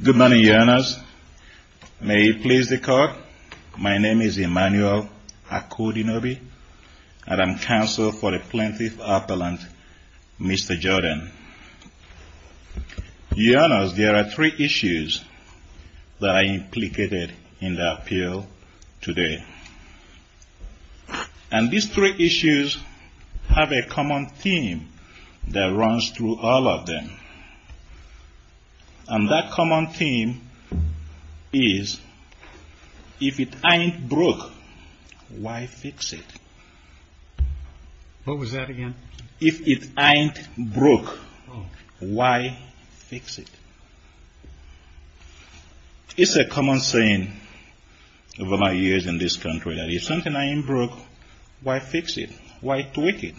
Good morning, Your Honors. May it please the Court, my name is Emmanuel Akudinobi, and I am counsel for the Plaintiff Appellant, Mr. Jordan. Your Honors, there are three issues that are implicated in the appeal today. And these three issues have a common theme that runs through all of them. And that common theme is, if it ain't broke, why fix it? If it ain't broke, why fix it? It's a common saying over my years in this country. If something ain't broke, why fix it? Why tweak it?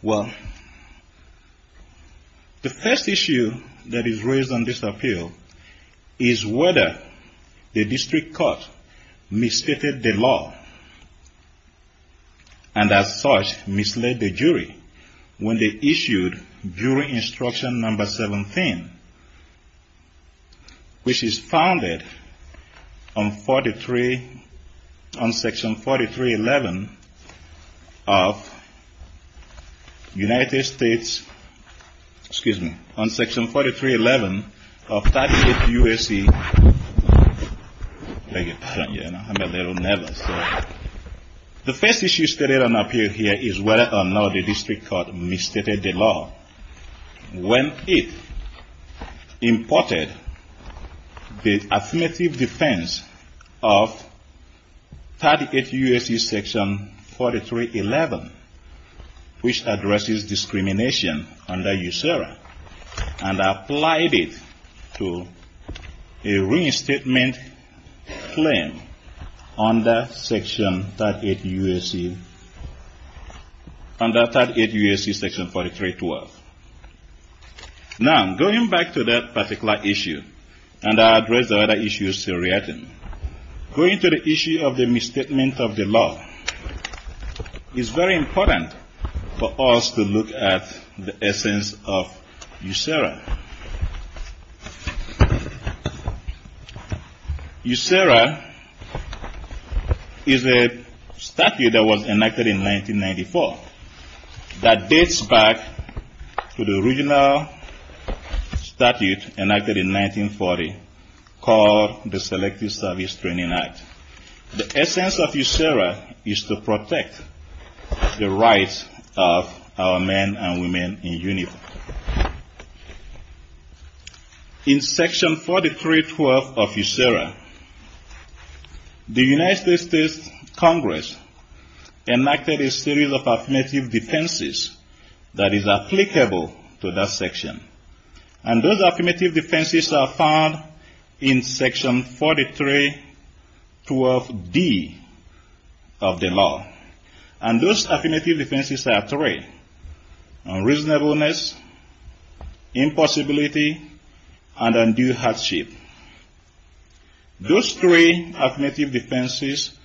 Well, the first issue that is raised on this appeal is whether the district court misstated the law and, as such, misled the jury when they issued jury instruction number 17, which is founded on Section 4311 of United States, excuse me, on Section 4311 of 38 U.S.C. I'm a little nervous. The first issue stated on appeal here is whether or not the district court misstated the law when it imported the affirmative defense of 38 U.S.C. Section 4311, which addresses discrimination under USERRA, and applied it to a reinstatement claim under 38 U.S.C. Section 4312. Now, going back to that particular issue, and I address the other issues to react in, going to the issue of the misstatement of the law is very important for us to look at the essence of USERRA. USERRA is a statute that was enacted in 1994 that dates back to the original statute enacted in 1940 called the Selective Service Training Act. The essence of USERRA is to protect the rights of our men and women in uniform. In Section 4312 of USERRA, the United States Congress enacted a series of affirmative defenses that is applicable to that section. And those affirmative defenses are found in Section 4312D of the law. And those affirmative defenses are three. Unreasonableness, impossibility, and undue hardship. Those three affirmative defenses,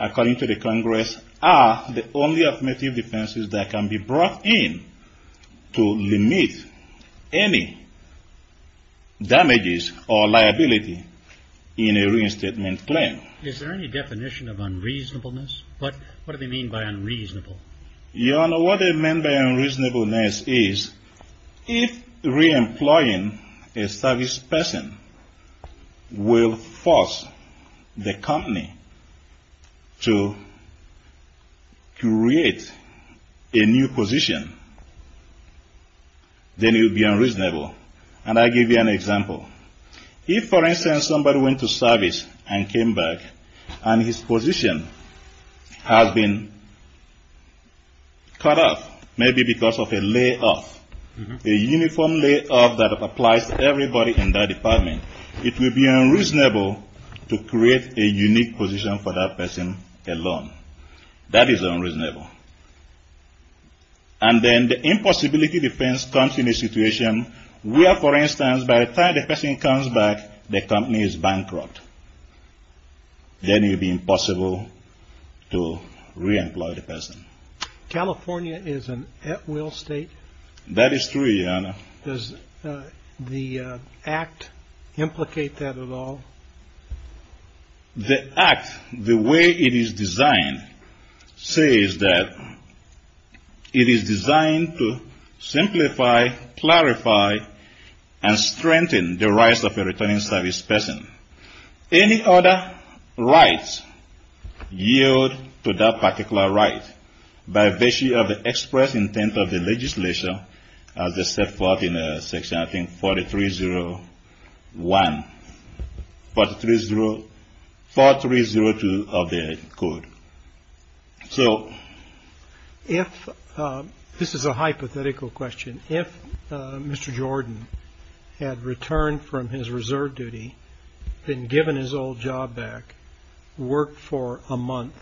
according to the Congress, are the only affirmative defenses that can be brought in to limit any damages or liability in a reinstatement claim. Is there any definition of unreasonableness? What do they mean by unreasonable? Your Honor, what they mean by unreasonableness is if re-employing a service person will force the company to create a new position, then it would be unreasonable. And I'll give you an example. If, for instance, somebody went to service and came back and his position has been cut off, maybe because of a layoff, a uniform layoff that applies to everybody in that department, it would be unreasonable to create a unique position for that person alone. That is unreasonable. And then the impossibility defense comes in a situation where, for instance, by the time the person comes back, the company is bankrupt. Then it would be impossible to re-employ the person. California is an at-will state? That is true, Your Honor. Does the act implicate that at all? The act, the way it is designed, says that it is designed to simplify, clarify, and strengthen the rights of a returning service person. Any other rights yield to that particular right by virtue of the express intent of the legislation as set forth in Section 4302 of the Code. This is a hypothetical question. If Mr. Jordan had returned from his reserve duty, been given his old job back, worked for a month,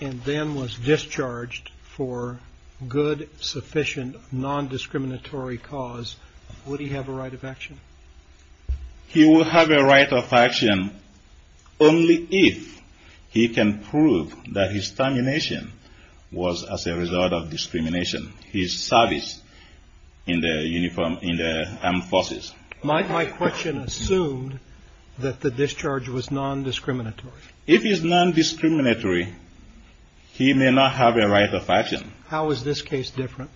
and then was discharged for good, sufficient, non-discriminatory cause, would he have a right of action? He would have a right of action only if he can prove that his termination was as a result of discrimination, his service in the armed forces. My question assumed that the discharge was non-discriminatory. If it is non-discriminatory, he may not have a right of action. How is this case different?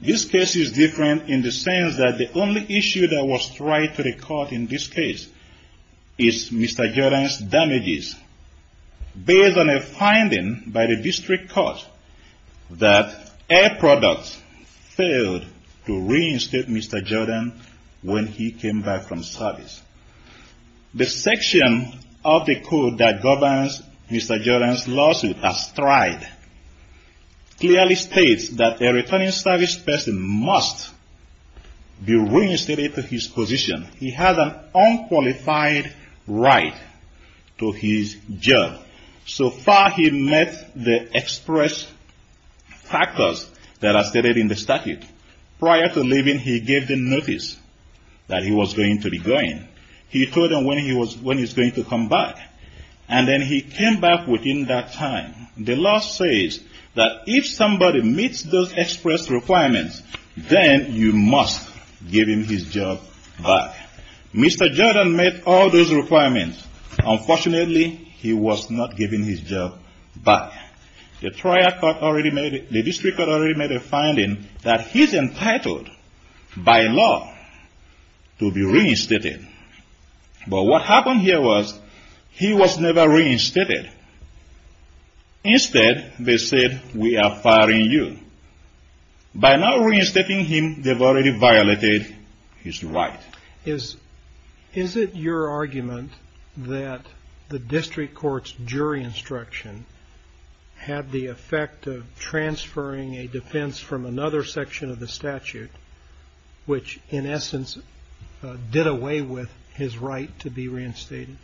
This case is different in the sense that the only issue that was tried to the court in this case is Mr. Jordan's damages, based on a finding by the district court that Air Products failed to reinstate Mr. Jordan when he came back from service. The section of the Code that governs Mr. Jordan's lawsuit as tried clearly states that a returning service person must be reinstated to his position. He has an unqualified right to his job. So far he met the express factors that are stated in the statute. Prior to leaving, he gave the notice that he was going to be going. He told them when he was going to come back, and then he came back within that time. The law says that if somebody meets those express requirements, then you must give him his job back. Mr. Jordan met all those requirements. Unfortunately, he was not given his job back. The district court already made a finding that he's entitled by law to be reinstated. But what happened here was he was never reinstated. Instead, they said, we are firing you. By not reinstating him, they've already violated his right. Is it your argument that the district court's jury instruction had the effect of transferring a defense from another section of the statute, which in essence did away with his right to be reinstated?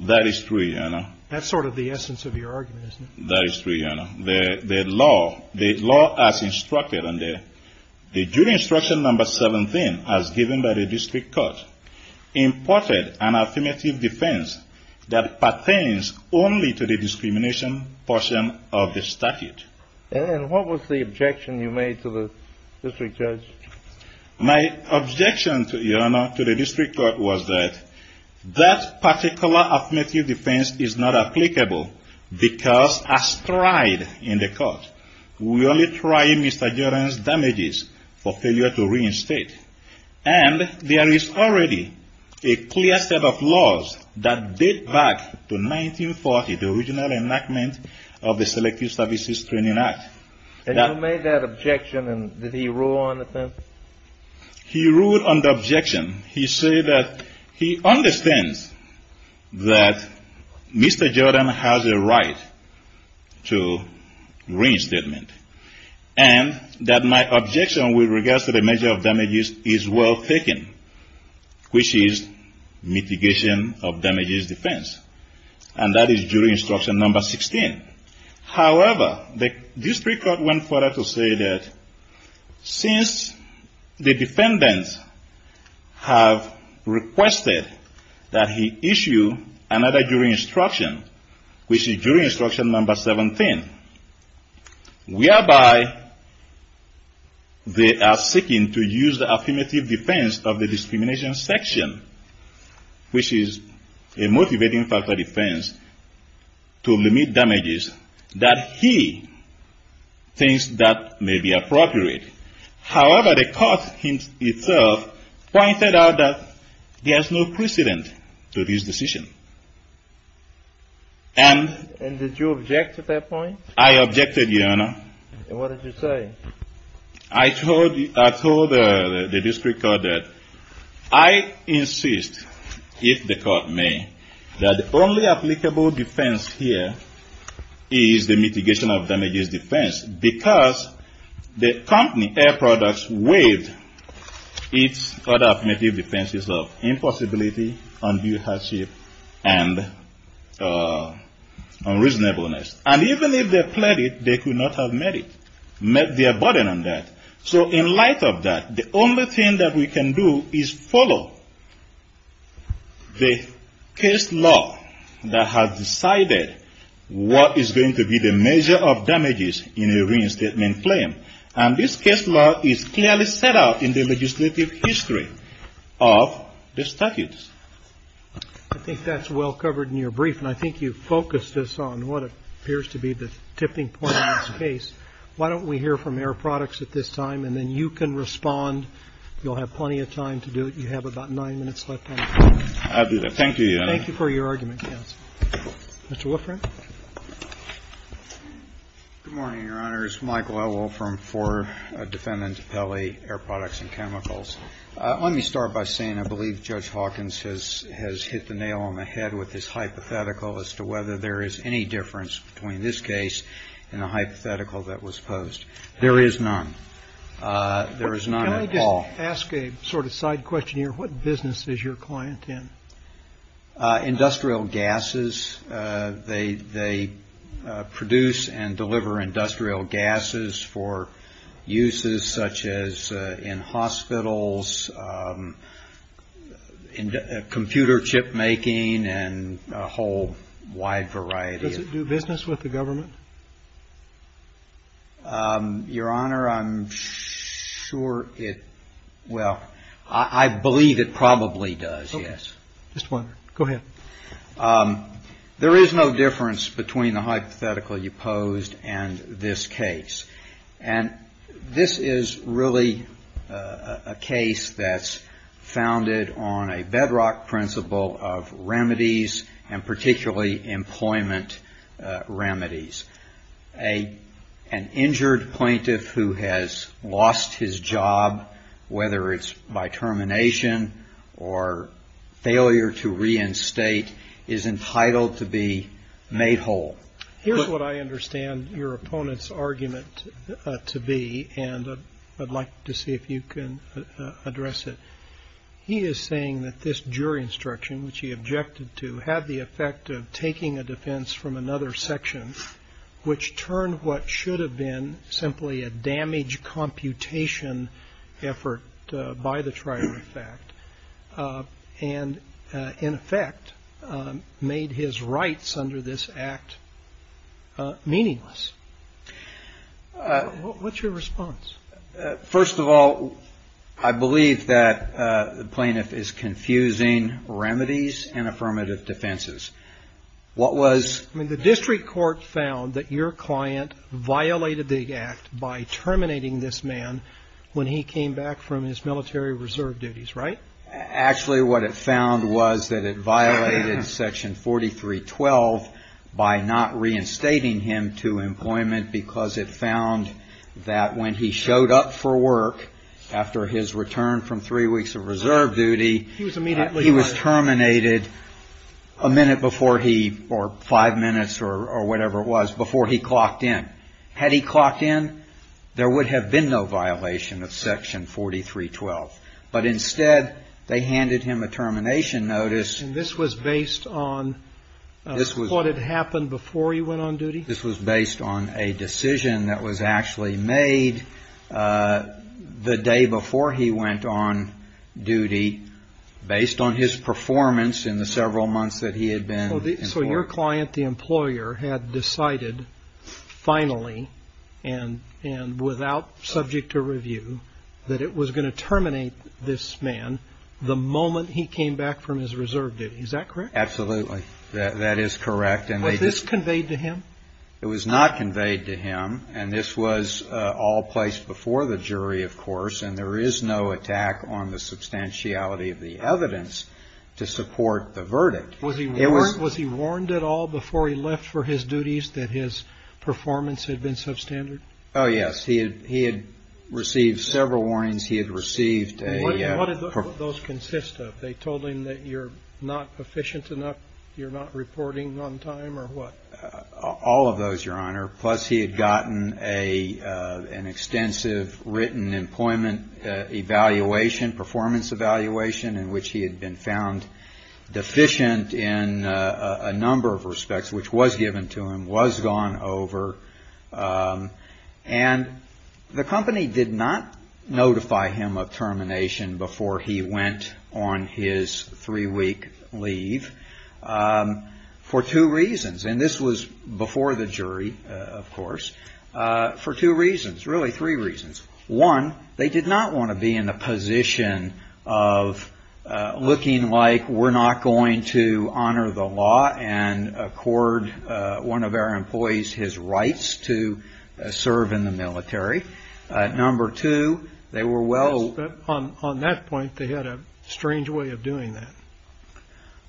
That is true, Your Honor. That's sort of the essence of your argument, isn't it? That is true, Your Honor. The law as instructed under the jury instruction number 17, as given by the district court, imported an affirmative defense that pertains only to the discrimination portion of the statute. And what was the objection you made to the district judge? My objection, Your Honor, to the district court was that that particular affirmative defense is not applicable because, as tried in the court, we only try Mr. Jordan's damages for failure to reinstate. And there is already a clear set of laws that date back to 1940, the original enactment of the Selective Services Training Act. And you made that objection, and did he rule on the thing? He ruled on the objection. He said that he understands that Mr. Jordan has a right to reinstatement, and that my objection with regards to the measure of damages is well taken, which is mitigation of damages defense. And that is jury instruction number 16. However, the district court went further to say that since the defendants have requested that he issue another jury instruction, which is jury instruction number 17, whereby they are seeking to use the affirmative defense of the discrimination section, which is a motivating factor defense to limit damages, that he thinks that may be appropriate. However, the court itself pointed out that there is no precedent to this decision. And did you object to that point? I objected, Your Honor. And what did you say? I told the district court that I insist, if the court may, that the only applicable defense here is the mitigation of damages defense, because the company, Air Products, waived its affirmative defenses of impossibility, undue hardship, and unreasonableness. And even if they pleaded, they could not have met their burden on that. So in light of that, the only thing that we can do is follow the case law that has decided what is going to be the measure of damages in a reinstatement claim. And this case law is clearly set out in the legislative history of the statutes. I think that's well covered in your brief. And I think you focused this on what appears to be the tipping point of this case. Why don't we hear from Air Products at this time, and then you can respond. You'll have plenty of time to do it. You have about nine minutes left on the clock. I'll do that. Thank you, Your Honor. Thank you for your argument, counsel. Mr. Wolfram. Good morning, Your Honors. Michael Elwell from 4 Defendant Pele, Air Products and Chemicals. Let me start by saying I believe Judge Hawkins has hit the nail on the head with his hypothetical as to whether there is any difference between this case and the hypothetical that was posed. There is none. There is none at all. Can I just ask a sort of side question here? What business is your client in? Industrial gases. They produce and deliver industrial gases for uses such as in hospitals, computer chip making, and a whole wide variety. Does it do business with the government? Your Honor, I'm sure it – well, I believe it probably does, yes. Just one. Go ahead. There is no difference between the hypothetical you posed and this case. And this is really a case that's founded on a bedrock principle of remedies and particularly employment remedies. An injured plaintiff who has lost his job, whether it's by termination or failure to reinstate, is entitled to be made whole. Here's what I understand your opponent's argument to be, and I'd like to see if you can address it. He is saying that this jury instruction, which he objected to, had the effect of taking a defense from another section, which turned what should have been simply a damage computation effort by the trier of fact, and in effect made his rights under this act meaningless. What's your response? First of all, I believe that the plaintiff is confusing remedies and affirmative defenses. What was – I mean, the district court found that your client violated the act by terminating this man when he came back from his military reserve duties, right? Actually, what it found was that it violated Section 4312 by not reinstating him to employment because it found that when he showed up for work after his return from three weeks of reserve duty, he was terminated a minute before he – or five minutes or whatever it was before he clocked in. Had he clocked in, there would have been no violation of Section 4312. But instead, they handed him a termination notice. And this was based on what had happened before he went on duty? This was based on a decision that was actually made the day before he went on duty, based on his performance in the several months that he had been – So your client, the employer, had decided finally and without subject to review that it was going to terminate this man the moment he came back from his reserve duty. Is that correct? Absolutely. That is correct. Was this conveyed to him? It was not conveyed to him. And this was all placed before the jury, of course. And there is no attack on the substantiality of the evidence to support the verdict. Was he warned at all before he left for his duties that his performance had been substandard? Oh, yes. He had received several warnings. He had received a – What did those consist of? They told him that you're not efficient enough, you're not reporting on time or what? All of those, Your Honor, plus he had gotten an extensive written employment evaluation, performance evaluation in which he had been found deficient in a number of respects, which was given to him, was gone over. And the company did not notify him of termination before he went on his three-week leave for two reasons. And this was before the jury, of course, for two reasons, really three reasons. One, they did not want to be in a position of looking like we're not going to honor the law and accord one of our employees his rights to serve in the military. Number two, they were well – Yes, but on that point, they had a strange way of doing that.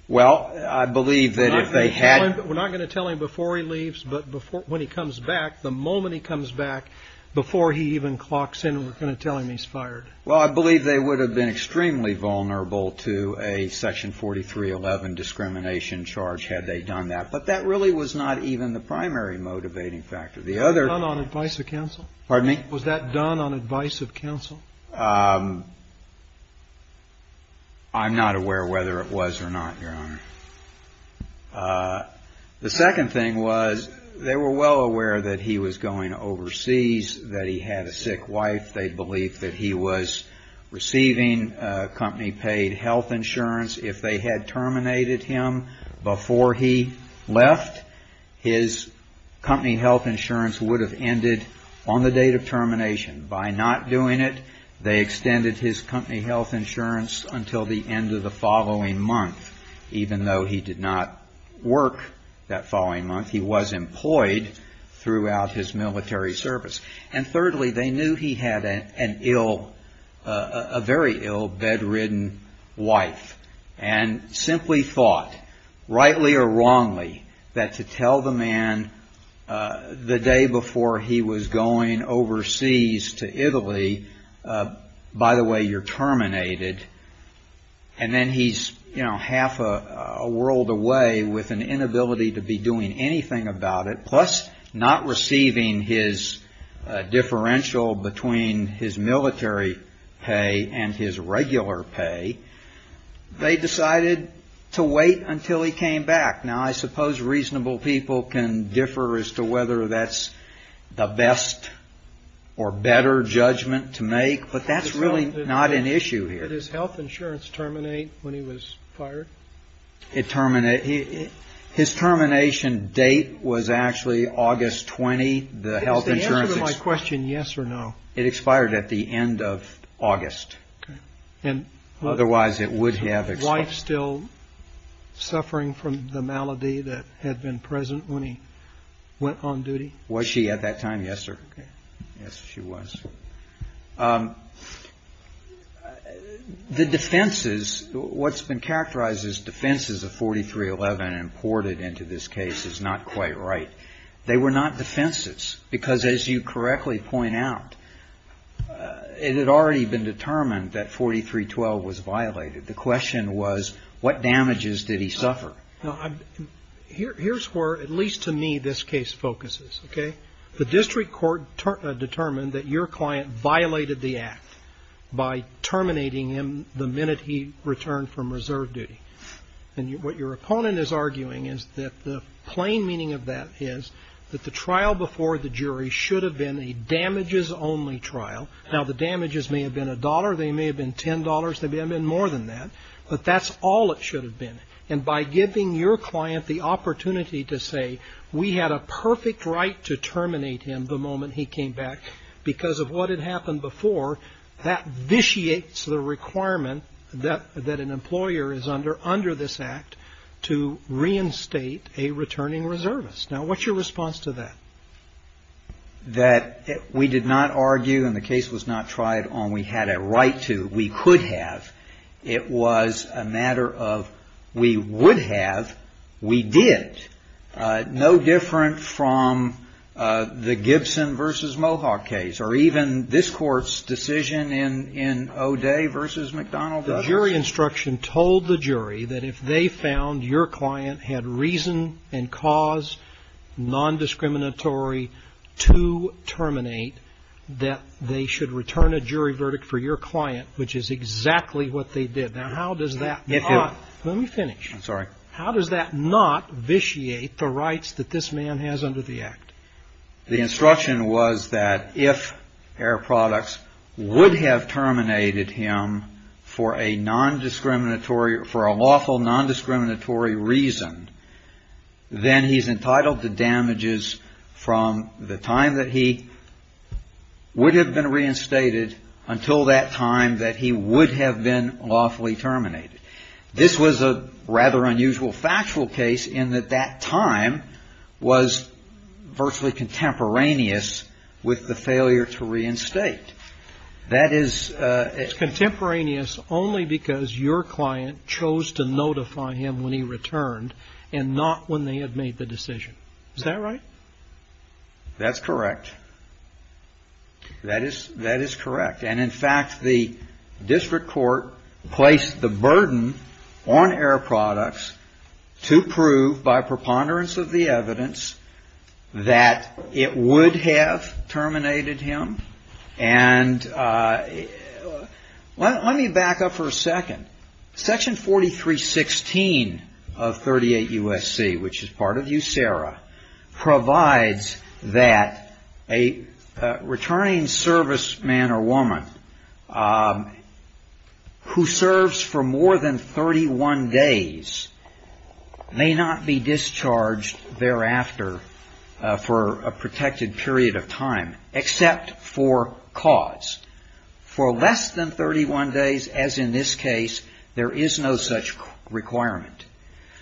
Well, I believe that if they had – We're not going to tell him before he leaves, but when he comes back, the moment he comes back, before he even clocks in, we're going to tell him he's fired. Well, I believe they would have been extremely vulnerable to a Section 4311 discrimination charge had they done that. But that really was not even the primary motivating factor. The other – Was that done on advice of counsel? Pardon me? Was that done on advice of counsel? I'm not aware whether it was or not, Your Honor. The second thing was they were well aware that he was going overseas, that he had a sick wife. They believed that he was receiving company-paid health insurance. If they had terminated him before he left, his company health insurance would have ended on the date of termination. By not doing it, they extended his company health insurance until the end of the following month. Even though he did not work that following month, he was employed throughout his military service. And thirdly, they knew he had a very ill, bedridden wife and simply thought, rightly or wrongly, that to tell the man the day before he was going overseas to Italy, by the way, you're terminated, and then he's half a world away with an inability to be doing anything about it, plus not receiving his differential between his military pay and his regular pay, they decided to wait until he came back. Now, I suppose reasonable people can differ as to whether that's the best or better judgment to make, but that's really not an issue here. Did his health insurance terminate when he was fired? His termination date was actually August 20. Is the answer to my question yes or no? It expired at the end of August. Otherwise it would have expired. Was his wife still suffering from the malady that had been present when he went on duty? Was she at that time? Yes, sir. Yes, she was. The defenses, what's been characterized as defenses of 4311 imported into this case is not quite right. They were not defenses because, as you correctly point out, it had already been determined that 4312 was violated. The question was, what damages did he suffer? Here's where, at least to me, this case focuses, okay? The district court determined that your client violated the act by terminating him the minute he returned from reserve duty. And what your opponent is arguing is that the plain meaning of that is that the trial before the jury should have been a damages-only trial. Now, the damages may have been $1. They may have been $10. They may have been more than that. But that's all it should have been. And by giving your client the opportunity to say, we had a perfect right to terminate him the moment he came back because of what had happened before, that vitiates the requirement that an employer is under under this act to reinstate a returning reservist. Now, what's your response to that? That we did not argue and the case was not tried on we had a right to, we could have. It was a matter of we would have, we did. No different from the Gibson v. Mohawk case or even this court's decision in O'Day v. McDonald. The jury instruction told the jury that if they found your client had reason and cause, nondiscriminatory, to terminate, that they should return a jury verdict for your client, which is exactly what they did. Now, how does that not. Let me finish. I'm sorry. How does that not vitiate the rights that this man has under the act? The instruction was that if Air Products would have terminated him for a nondiscriminatory, for a lawful nondiscriminatory reason, then he's entitled to damages from the time that he would have been reinstated until that time that he would have been lawfully terminated. This was a rather unusual factual case in that that time was virtually contemporaneous with the failure to reinstate. It's contemporaneous only because your client chose to notify him when he returned and not when they had made the decision. Is that right? That's correct. That is correct. And in fact, the district court placed the burden on Air Products to prove by preponderance of the evidence that it would have terminated him. And let me back up for a second. Section 4316 of 38 U.S.C., which is part of USERRA, provides that a returning serviceman or woman who serves for more than 31 days may not be For less than 31 days, as in this case, there is no such requirement.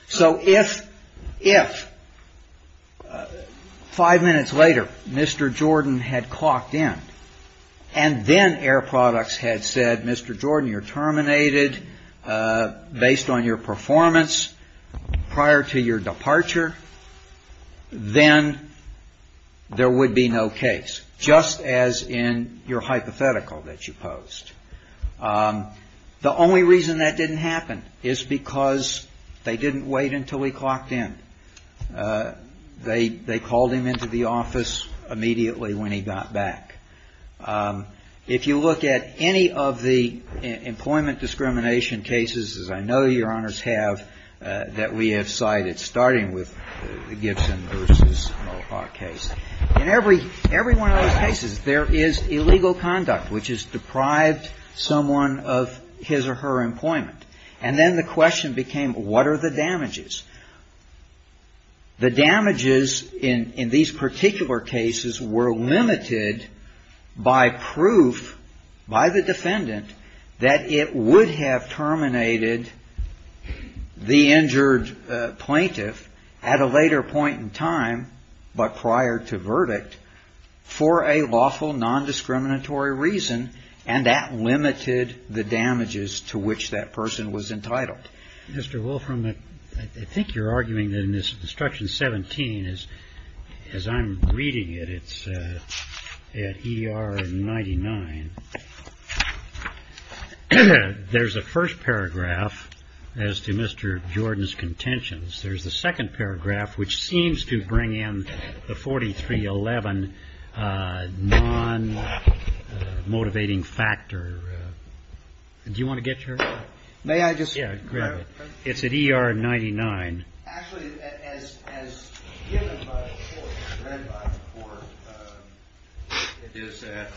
So if five minutes later Mr. Jordan had clocked in and then Air Products had said, Mr. Jordan, you're terminated based on your performance prior to your departure, then there would be no case, just as in your hypothetical that you posed. The only reason that didn't happen is because they didn't wait until he clocked in. They called him into the office immediately when he got back. If you look at any of the employment discrimination cases, as I know Your Honors have, that we have cited, starting with the Gibson v. Mohawk case, in every one of those cases, there is illegal conduct, which has deprived someone of his or her employment. And then the question became, what are the damages? The damages in these particular cases were limited by proof by the defendant that it would have terminated the injured plaintiff at a later point in time, but prior to verdict, for a lawful, non-discriminatory reason, and that limited the damages to which that person was entitled. Mr. Wolfram, I think you're arguing that in this Instruction 17, as I'm reading it, it's at ER 99, there's a first paragraph as to Mr. Jordan's contentions. There's a second paragraph which seems to bring in the 4311 non-motivating factor. Do you want to get your... May I just... It's at ER 99. Actually, as given by the court, read by the court, it is at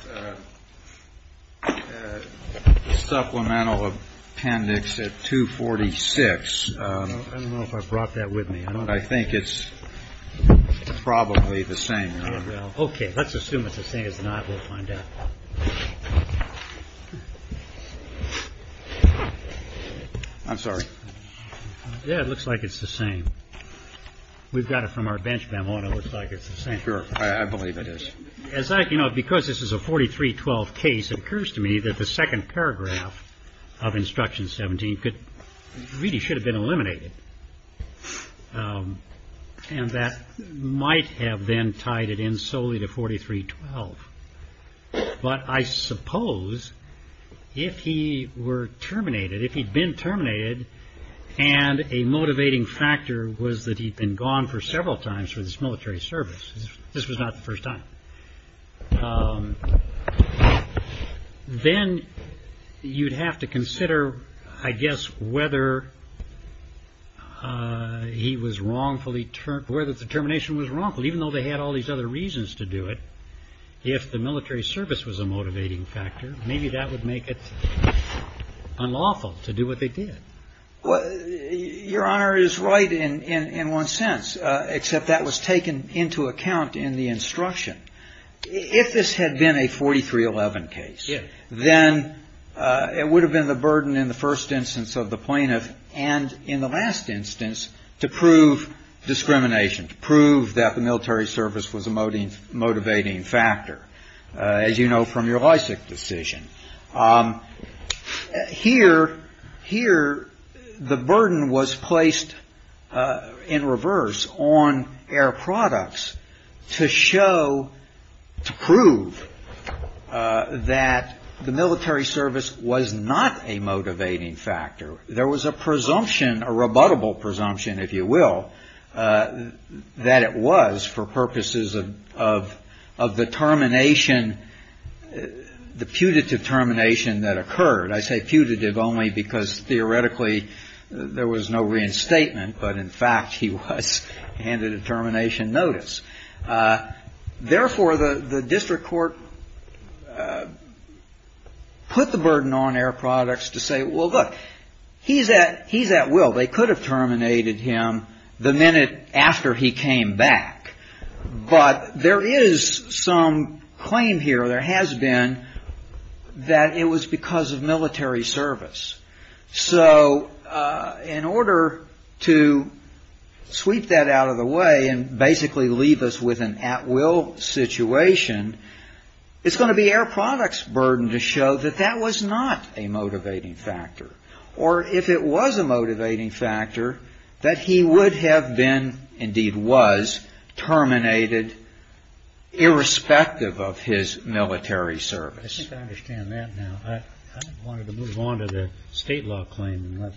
supplemental appendix at 246. I don't know if I brought that with me. I think it's probably the same. Yeah, it looks like it's the same. Because this is a 4312 case, it occurs to me that the second paragraph of Instruction 17 really should have been eliminated. And that might have then tied it in solely to 4312. But I suppose if he were terminated, if he'd been terminated, and a motivating factor was that he'd been gone for several times for this military service, this was not the first time, then you'd have to consider, I guess, whether he was wrongfully, whether the termination was wrongful. Even though they had all these other reasons to do it, if the military service was a motivating factor, maybe that would make it unlawful to do what they did. Your Honor is right in one sense, except that was taken into account in the Instruction. If this had been a 4311 case, then it would have been the burden in the first instance of the plaintiff, and in the last instance, to prove discrimination, to prove that the military service was a motivating factor, as you know from your Lysak decision. Here, the burden was placed in reverse on air products to show that the military service was a motivating factor. To prove that the military service was not a motivating factor. There was a presumption, a rebuttable presumption, if you will, that it was for purposes of the termination, the putative termination that occurred. I say putative only because theoretically there was no reinstatement, but in fact he was handed a termination notice. Therefore, the district court put the burden on air products to say, well, look, he's at will. They could have terminated him the minute after he came back. But there is some claim here, there has been, that it was because of military service. So in order to sweep that out of the way and basically leave us with an at will situation, it's going to be air products' burden to show that that was not a motivating factor. Or if it was a motivating factor, that he would have been, indeed was, terminated irrespective of his military service. I think I understand that now. I wanted to move on to the state law claim.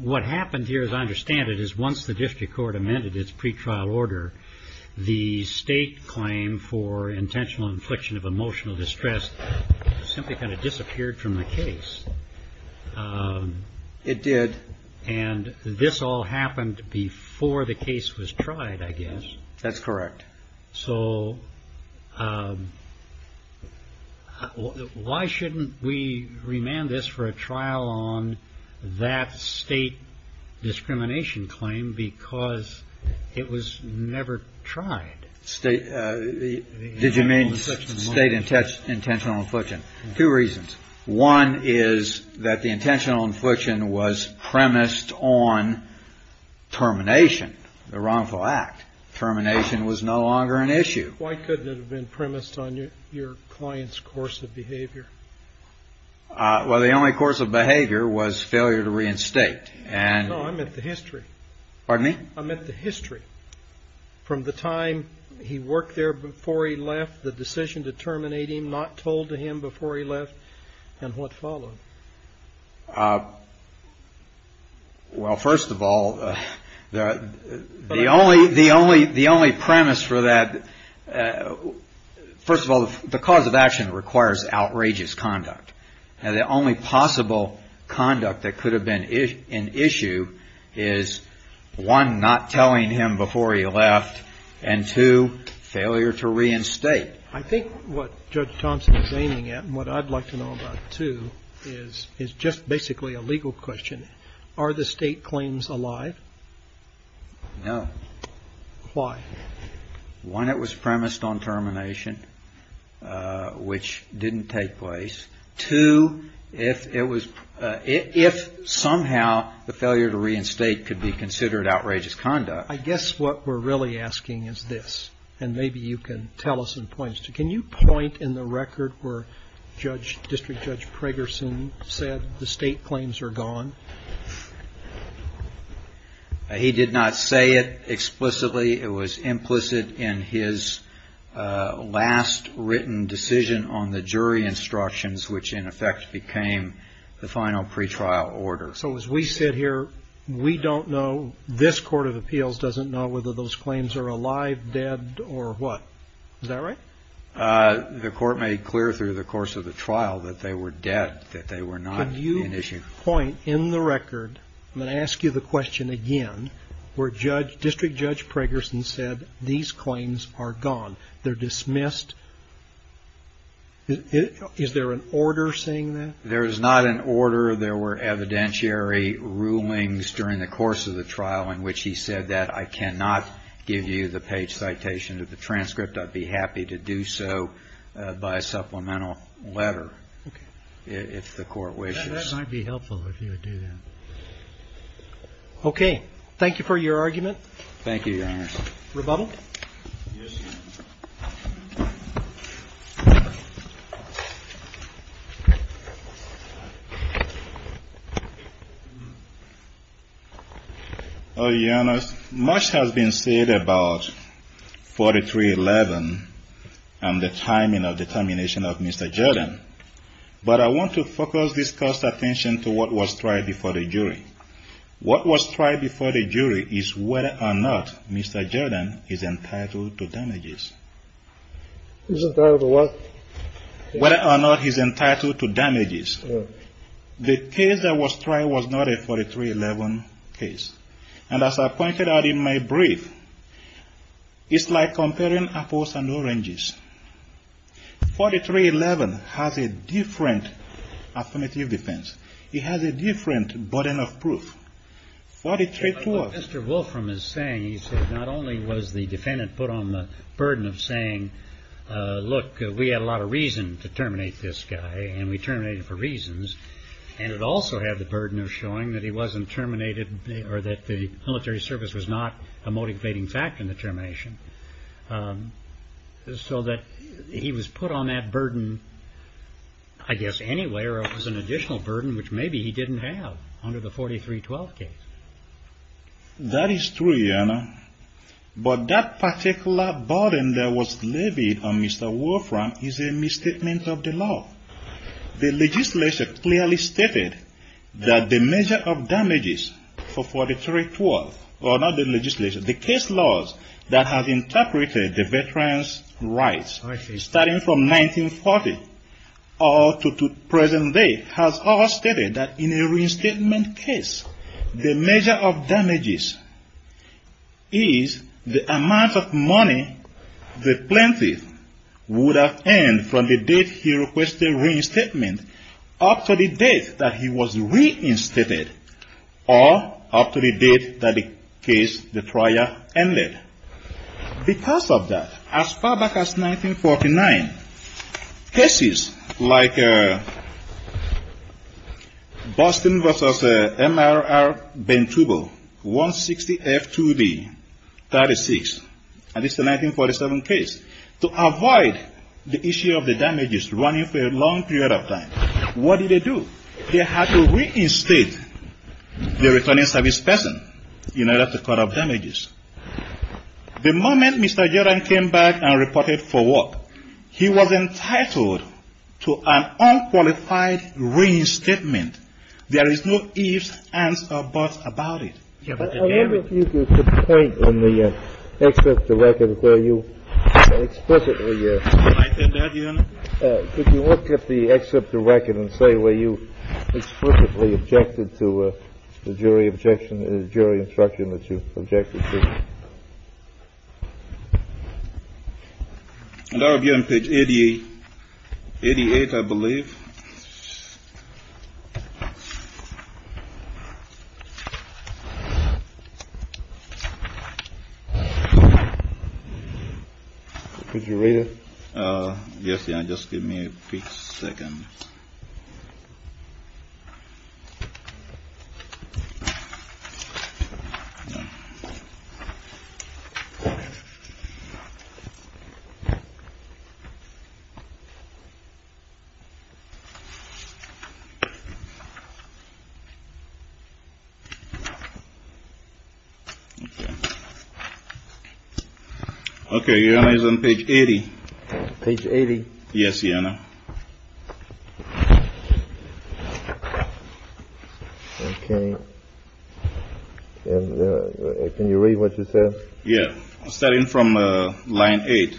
What happened here, as I understand it, is once the district court amended its pretrial order, the state claim for intentional infliction of emotional distress simply kind of disappeared from the case. It did. And this all happened before the case was tried, I guess. That's correct. So why shouldn't we remand this for a trial on that state discrimination claim? Because it was never tried. Did you mean state intentional infliction? Two reasons. One is that the intentional infliction was premised on termination, the wrongful act. Termination was no longer an issue. Why couldn't it have been premised on your client's course of behavior? Well, the only course of behavior was failure to reinstate. I meant the history. From the time he worked there before he left, the decision to terminate him, not told to him before he left, and what followed. Well, first of all, the only premise for that. First of all, the cause of action requires outrageous conduct. Now, the only possible conduct that could have been an issue is, one, not telling him before he left, and two, failure to reinstate. I think what Judge Thompson is aiming at and what I'd like to know about, too, is just basically a legal question. Are the state claims alive? No. Why? One, it was premised on termination, which didn't take place. Two, if somehow the failure to reinstate could be considered outrageous conduct. I guess what we're really asking is this, and maybe you can tell us in points. Can you point in the record where District Judge Pragerson said the state claims are gone? He did not say it explicitly. It was implicit in his last written decision on the jury instructions, which in effect became the final pretrial order. So as we sit here, we don't know, this Court of Appeals doesn't know whether those claims are alive, dead, or what. Is that right? The Court made clear through the course of the trial that they were dead, that they were not an issue. Can you point in the record, I'm going to ask you the question again, where District Judge Pragerson said these claims are gone? They're dismissed. Is there an order saying that? There is not an order. There were evidentiary rulings during the course of the trial in which he said that I cannot give you the page citation of the transcript. I'd be happy to do so by a supplemental letter if the Court wishes. That might be helpful if you would do that. Okay. Thank you for your argument. Thank you, Your Honor. Rebuttal? Your Honor, much has been said about 4311 and the timing of the termination of Mr. Jordan. But I want to focus this Court's attention to what was tried before the jury. What was tried before the jury is whether or not Mr. Jordan is entitled to damages. Is entitled to what? Whether or not he's entitled to damages. The case that was tried was not a 4311 case. And as I pointed out in my brief, it's like comparing apples and oranges. 4311 has a different affirmative defense. It has a different burden of proof. What Mr. Wolfram is saying is that not only was the defendant put on the burden of saying, look, we had a lot of reason to terminate this guy and we terminated for reasons, and it also had the burden of showing that he wasn't terminated or that the military service was not a motivating factor in the termination. So that he was put on that burden, I guess, anyway, or it was an additional burden, which maybe he didn't have under the 4312 case. That is true, Your Honor. But that particular burden that was levied on Mr. Wolfram is a misstatement of the law. The legislature clearly stated that the measure of damages for 4312, or not the legislature, the case laws that have interpreted the veterans' rights, starting from 1940 all the way to present day, has all stated that in a reinstatement case, the measure of damages is the amount of money the plaintiff would have earned from the date he requested reinstatement up to the date that he was reinstated or up to the date that the case, the trial, ended. Because of that, as far back as 1949, cases like Boston v. M.R.R. Bentubo, 160F2B-36, and this is a 1947 case, to avoid the issue of the damages running for a long period of time, what did they do? They had to reinstate the returning service person in order to cut off damages. The moment Mr. Geron came back and reported for what, he was entitled to an unqualified reinstatement. There is no ifs, ands, or buts about it. I wonder if you could point in the excerpt of the record where you explicitly... Did I say that, Your Honor? Could you look at the excerpt of the record and say where you explicitly objected to the jury objection, the jury instruction that you objected to? That would be on page 88, I believe. Could you read it? Yes. Just give me a second. OK. Can you read what you said? Yes, starting from line 8.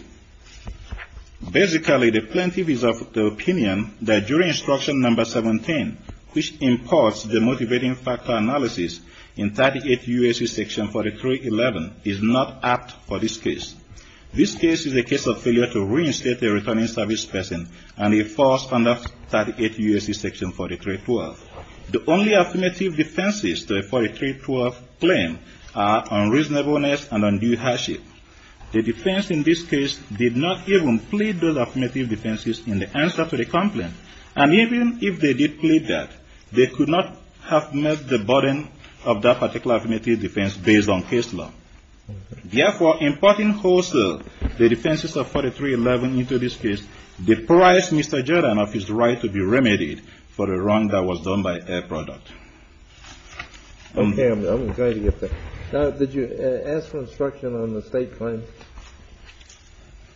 Basically, the plaintiff is of the opinion that jury instruction number 17, which imports the motivating factor analysis in 38 U.S.C. section 43-11, is not apt for this case. This case is a case of failure to reinstate the returning service person and a false conduct 38 U.S.C. section 43-12. The only affirmative defenses to a 43-12 claim are unreasonableness and undue hardship. The defense in this case did not even plead those affirmative defenses in the answer to the complaint. And even if they did plead that, they could not have met the burden of that particular affirmative defense based on case law. Therefore, importing wholesale the defenses of 43-11 into this case deprives Mr. Jordan of his right to be remedied for the wrong that was done by air product. OK, I'm going to get there. Now, did you ask for instruction on the state claims?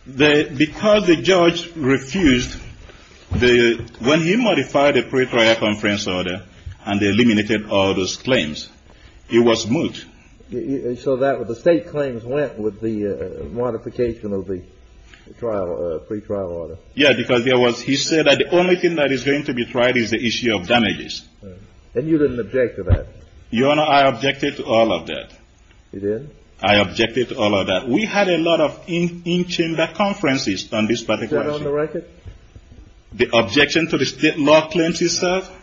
Because the judge refused, when he modified the pretrial conference order and eliminated all those claims, it was moot. So the state claims went with the modification of the pretrial order? Yeah, because he said that the only thing that is going to be tried is the issue of damages. And you didn't object to that? Your Honor, I objected to all of that. You did? I objected to all of that. We had a lot of in-chamber conferences on this particular issue. Is that on the record? The objection to the state law claims itself?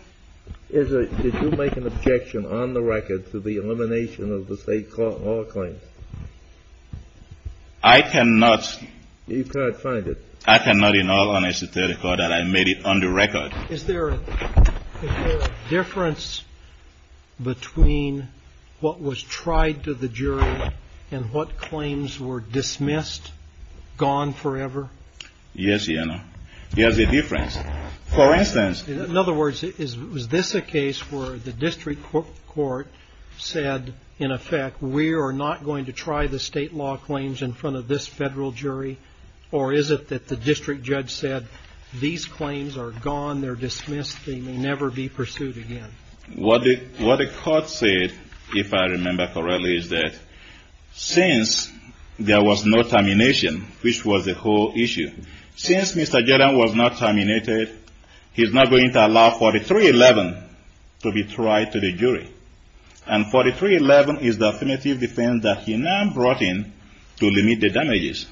Did you make an objection on the record to the elimination of the state law claims? I cannot. You can't find it? I cannot in all honesty declare that I made it on the record. Is there a difference between what was tried to the jury and what claims were dismissed, gone forever? Yes, Your Honor. There's a difference. For instance. In other words, is this a case where the district court said, in effect, we are not going to try the state law claims in front of this federal jury? Or is it that the district judge said, these claims are gone, they're dismissed, they may never be pursued again? What the court said, if I remember correctly, is that since there was no termination, which was the whole issue, since Mr. Jordan was not terminated, he's not going to allow 4311 to be tried to the jury. And 4311 is the definitive defense that he now brought in to limit the damages.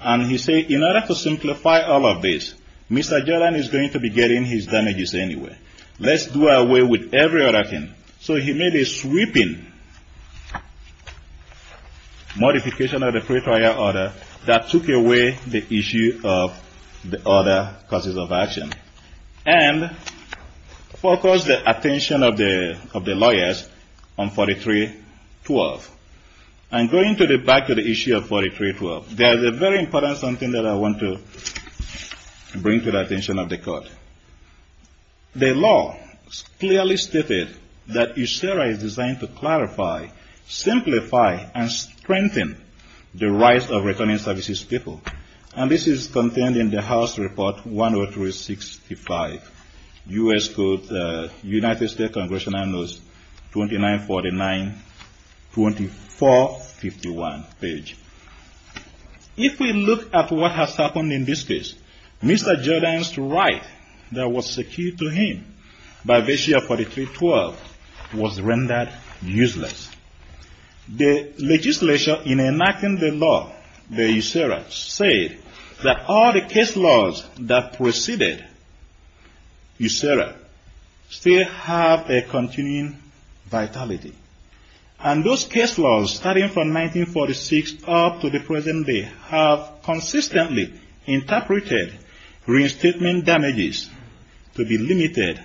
And he said, in order to simplify all of this, Mr. Jordan is going to be getting his damages anyway. Let's do away with every other thing. So he made a sweeping modification of the pretrial order that took away the issue of the other causes of action. And focused the attention of the lawyers on 4312. And going back to the issue of 4312, there's a very important something that I want to bring to the attention of the court. The law clearly stated that USERRA is designed to clarify, simplify, and strengthen the rights of returning services people. And this is contained in the House Report 10365, U.S. Code, United States Congressional Notes, 2949, 2451 page. If we look at what has happened in this case, Mr. Jordan's right that was secured to him by this year, 4312, was rendered useless. The legislature, in enacting the law, the USERRA, said that all the case laws that preceded USERRA still have a continuing vitality. And those case laws, starting from 1946 up to the present day, have consistently interpreted reinstatement damages to be limited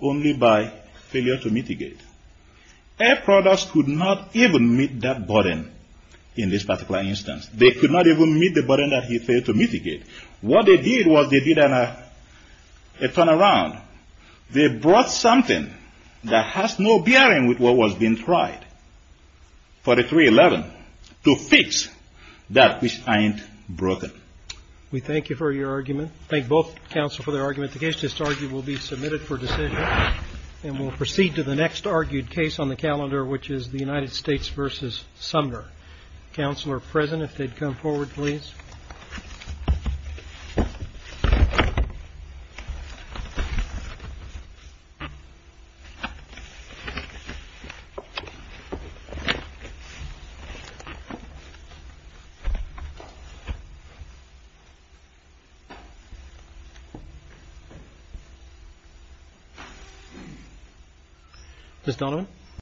only by failure to mitigate. Air products could not even meet that burden in this particular instance. They could not even meet the burden that he failed to mitigate. What they did was they did a turnaround. They brought something that has no bearing with what was being tried for the 311 to fix that which ain't broken. We thank you for your argument. Thank both counsel for their argument. The case just argued will be submitted for decision. And we'll proceed to the next argued case on the calendar, which is the United States v. Sumner. Counsel are present if they'd come forward, please. Thank you.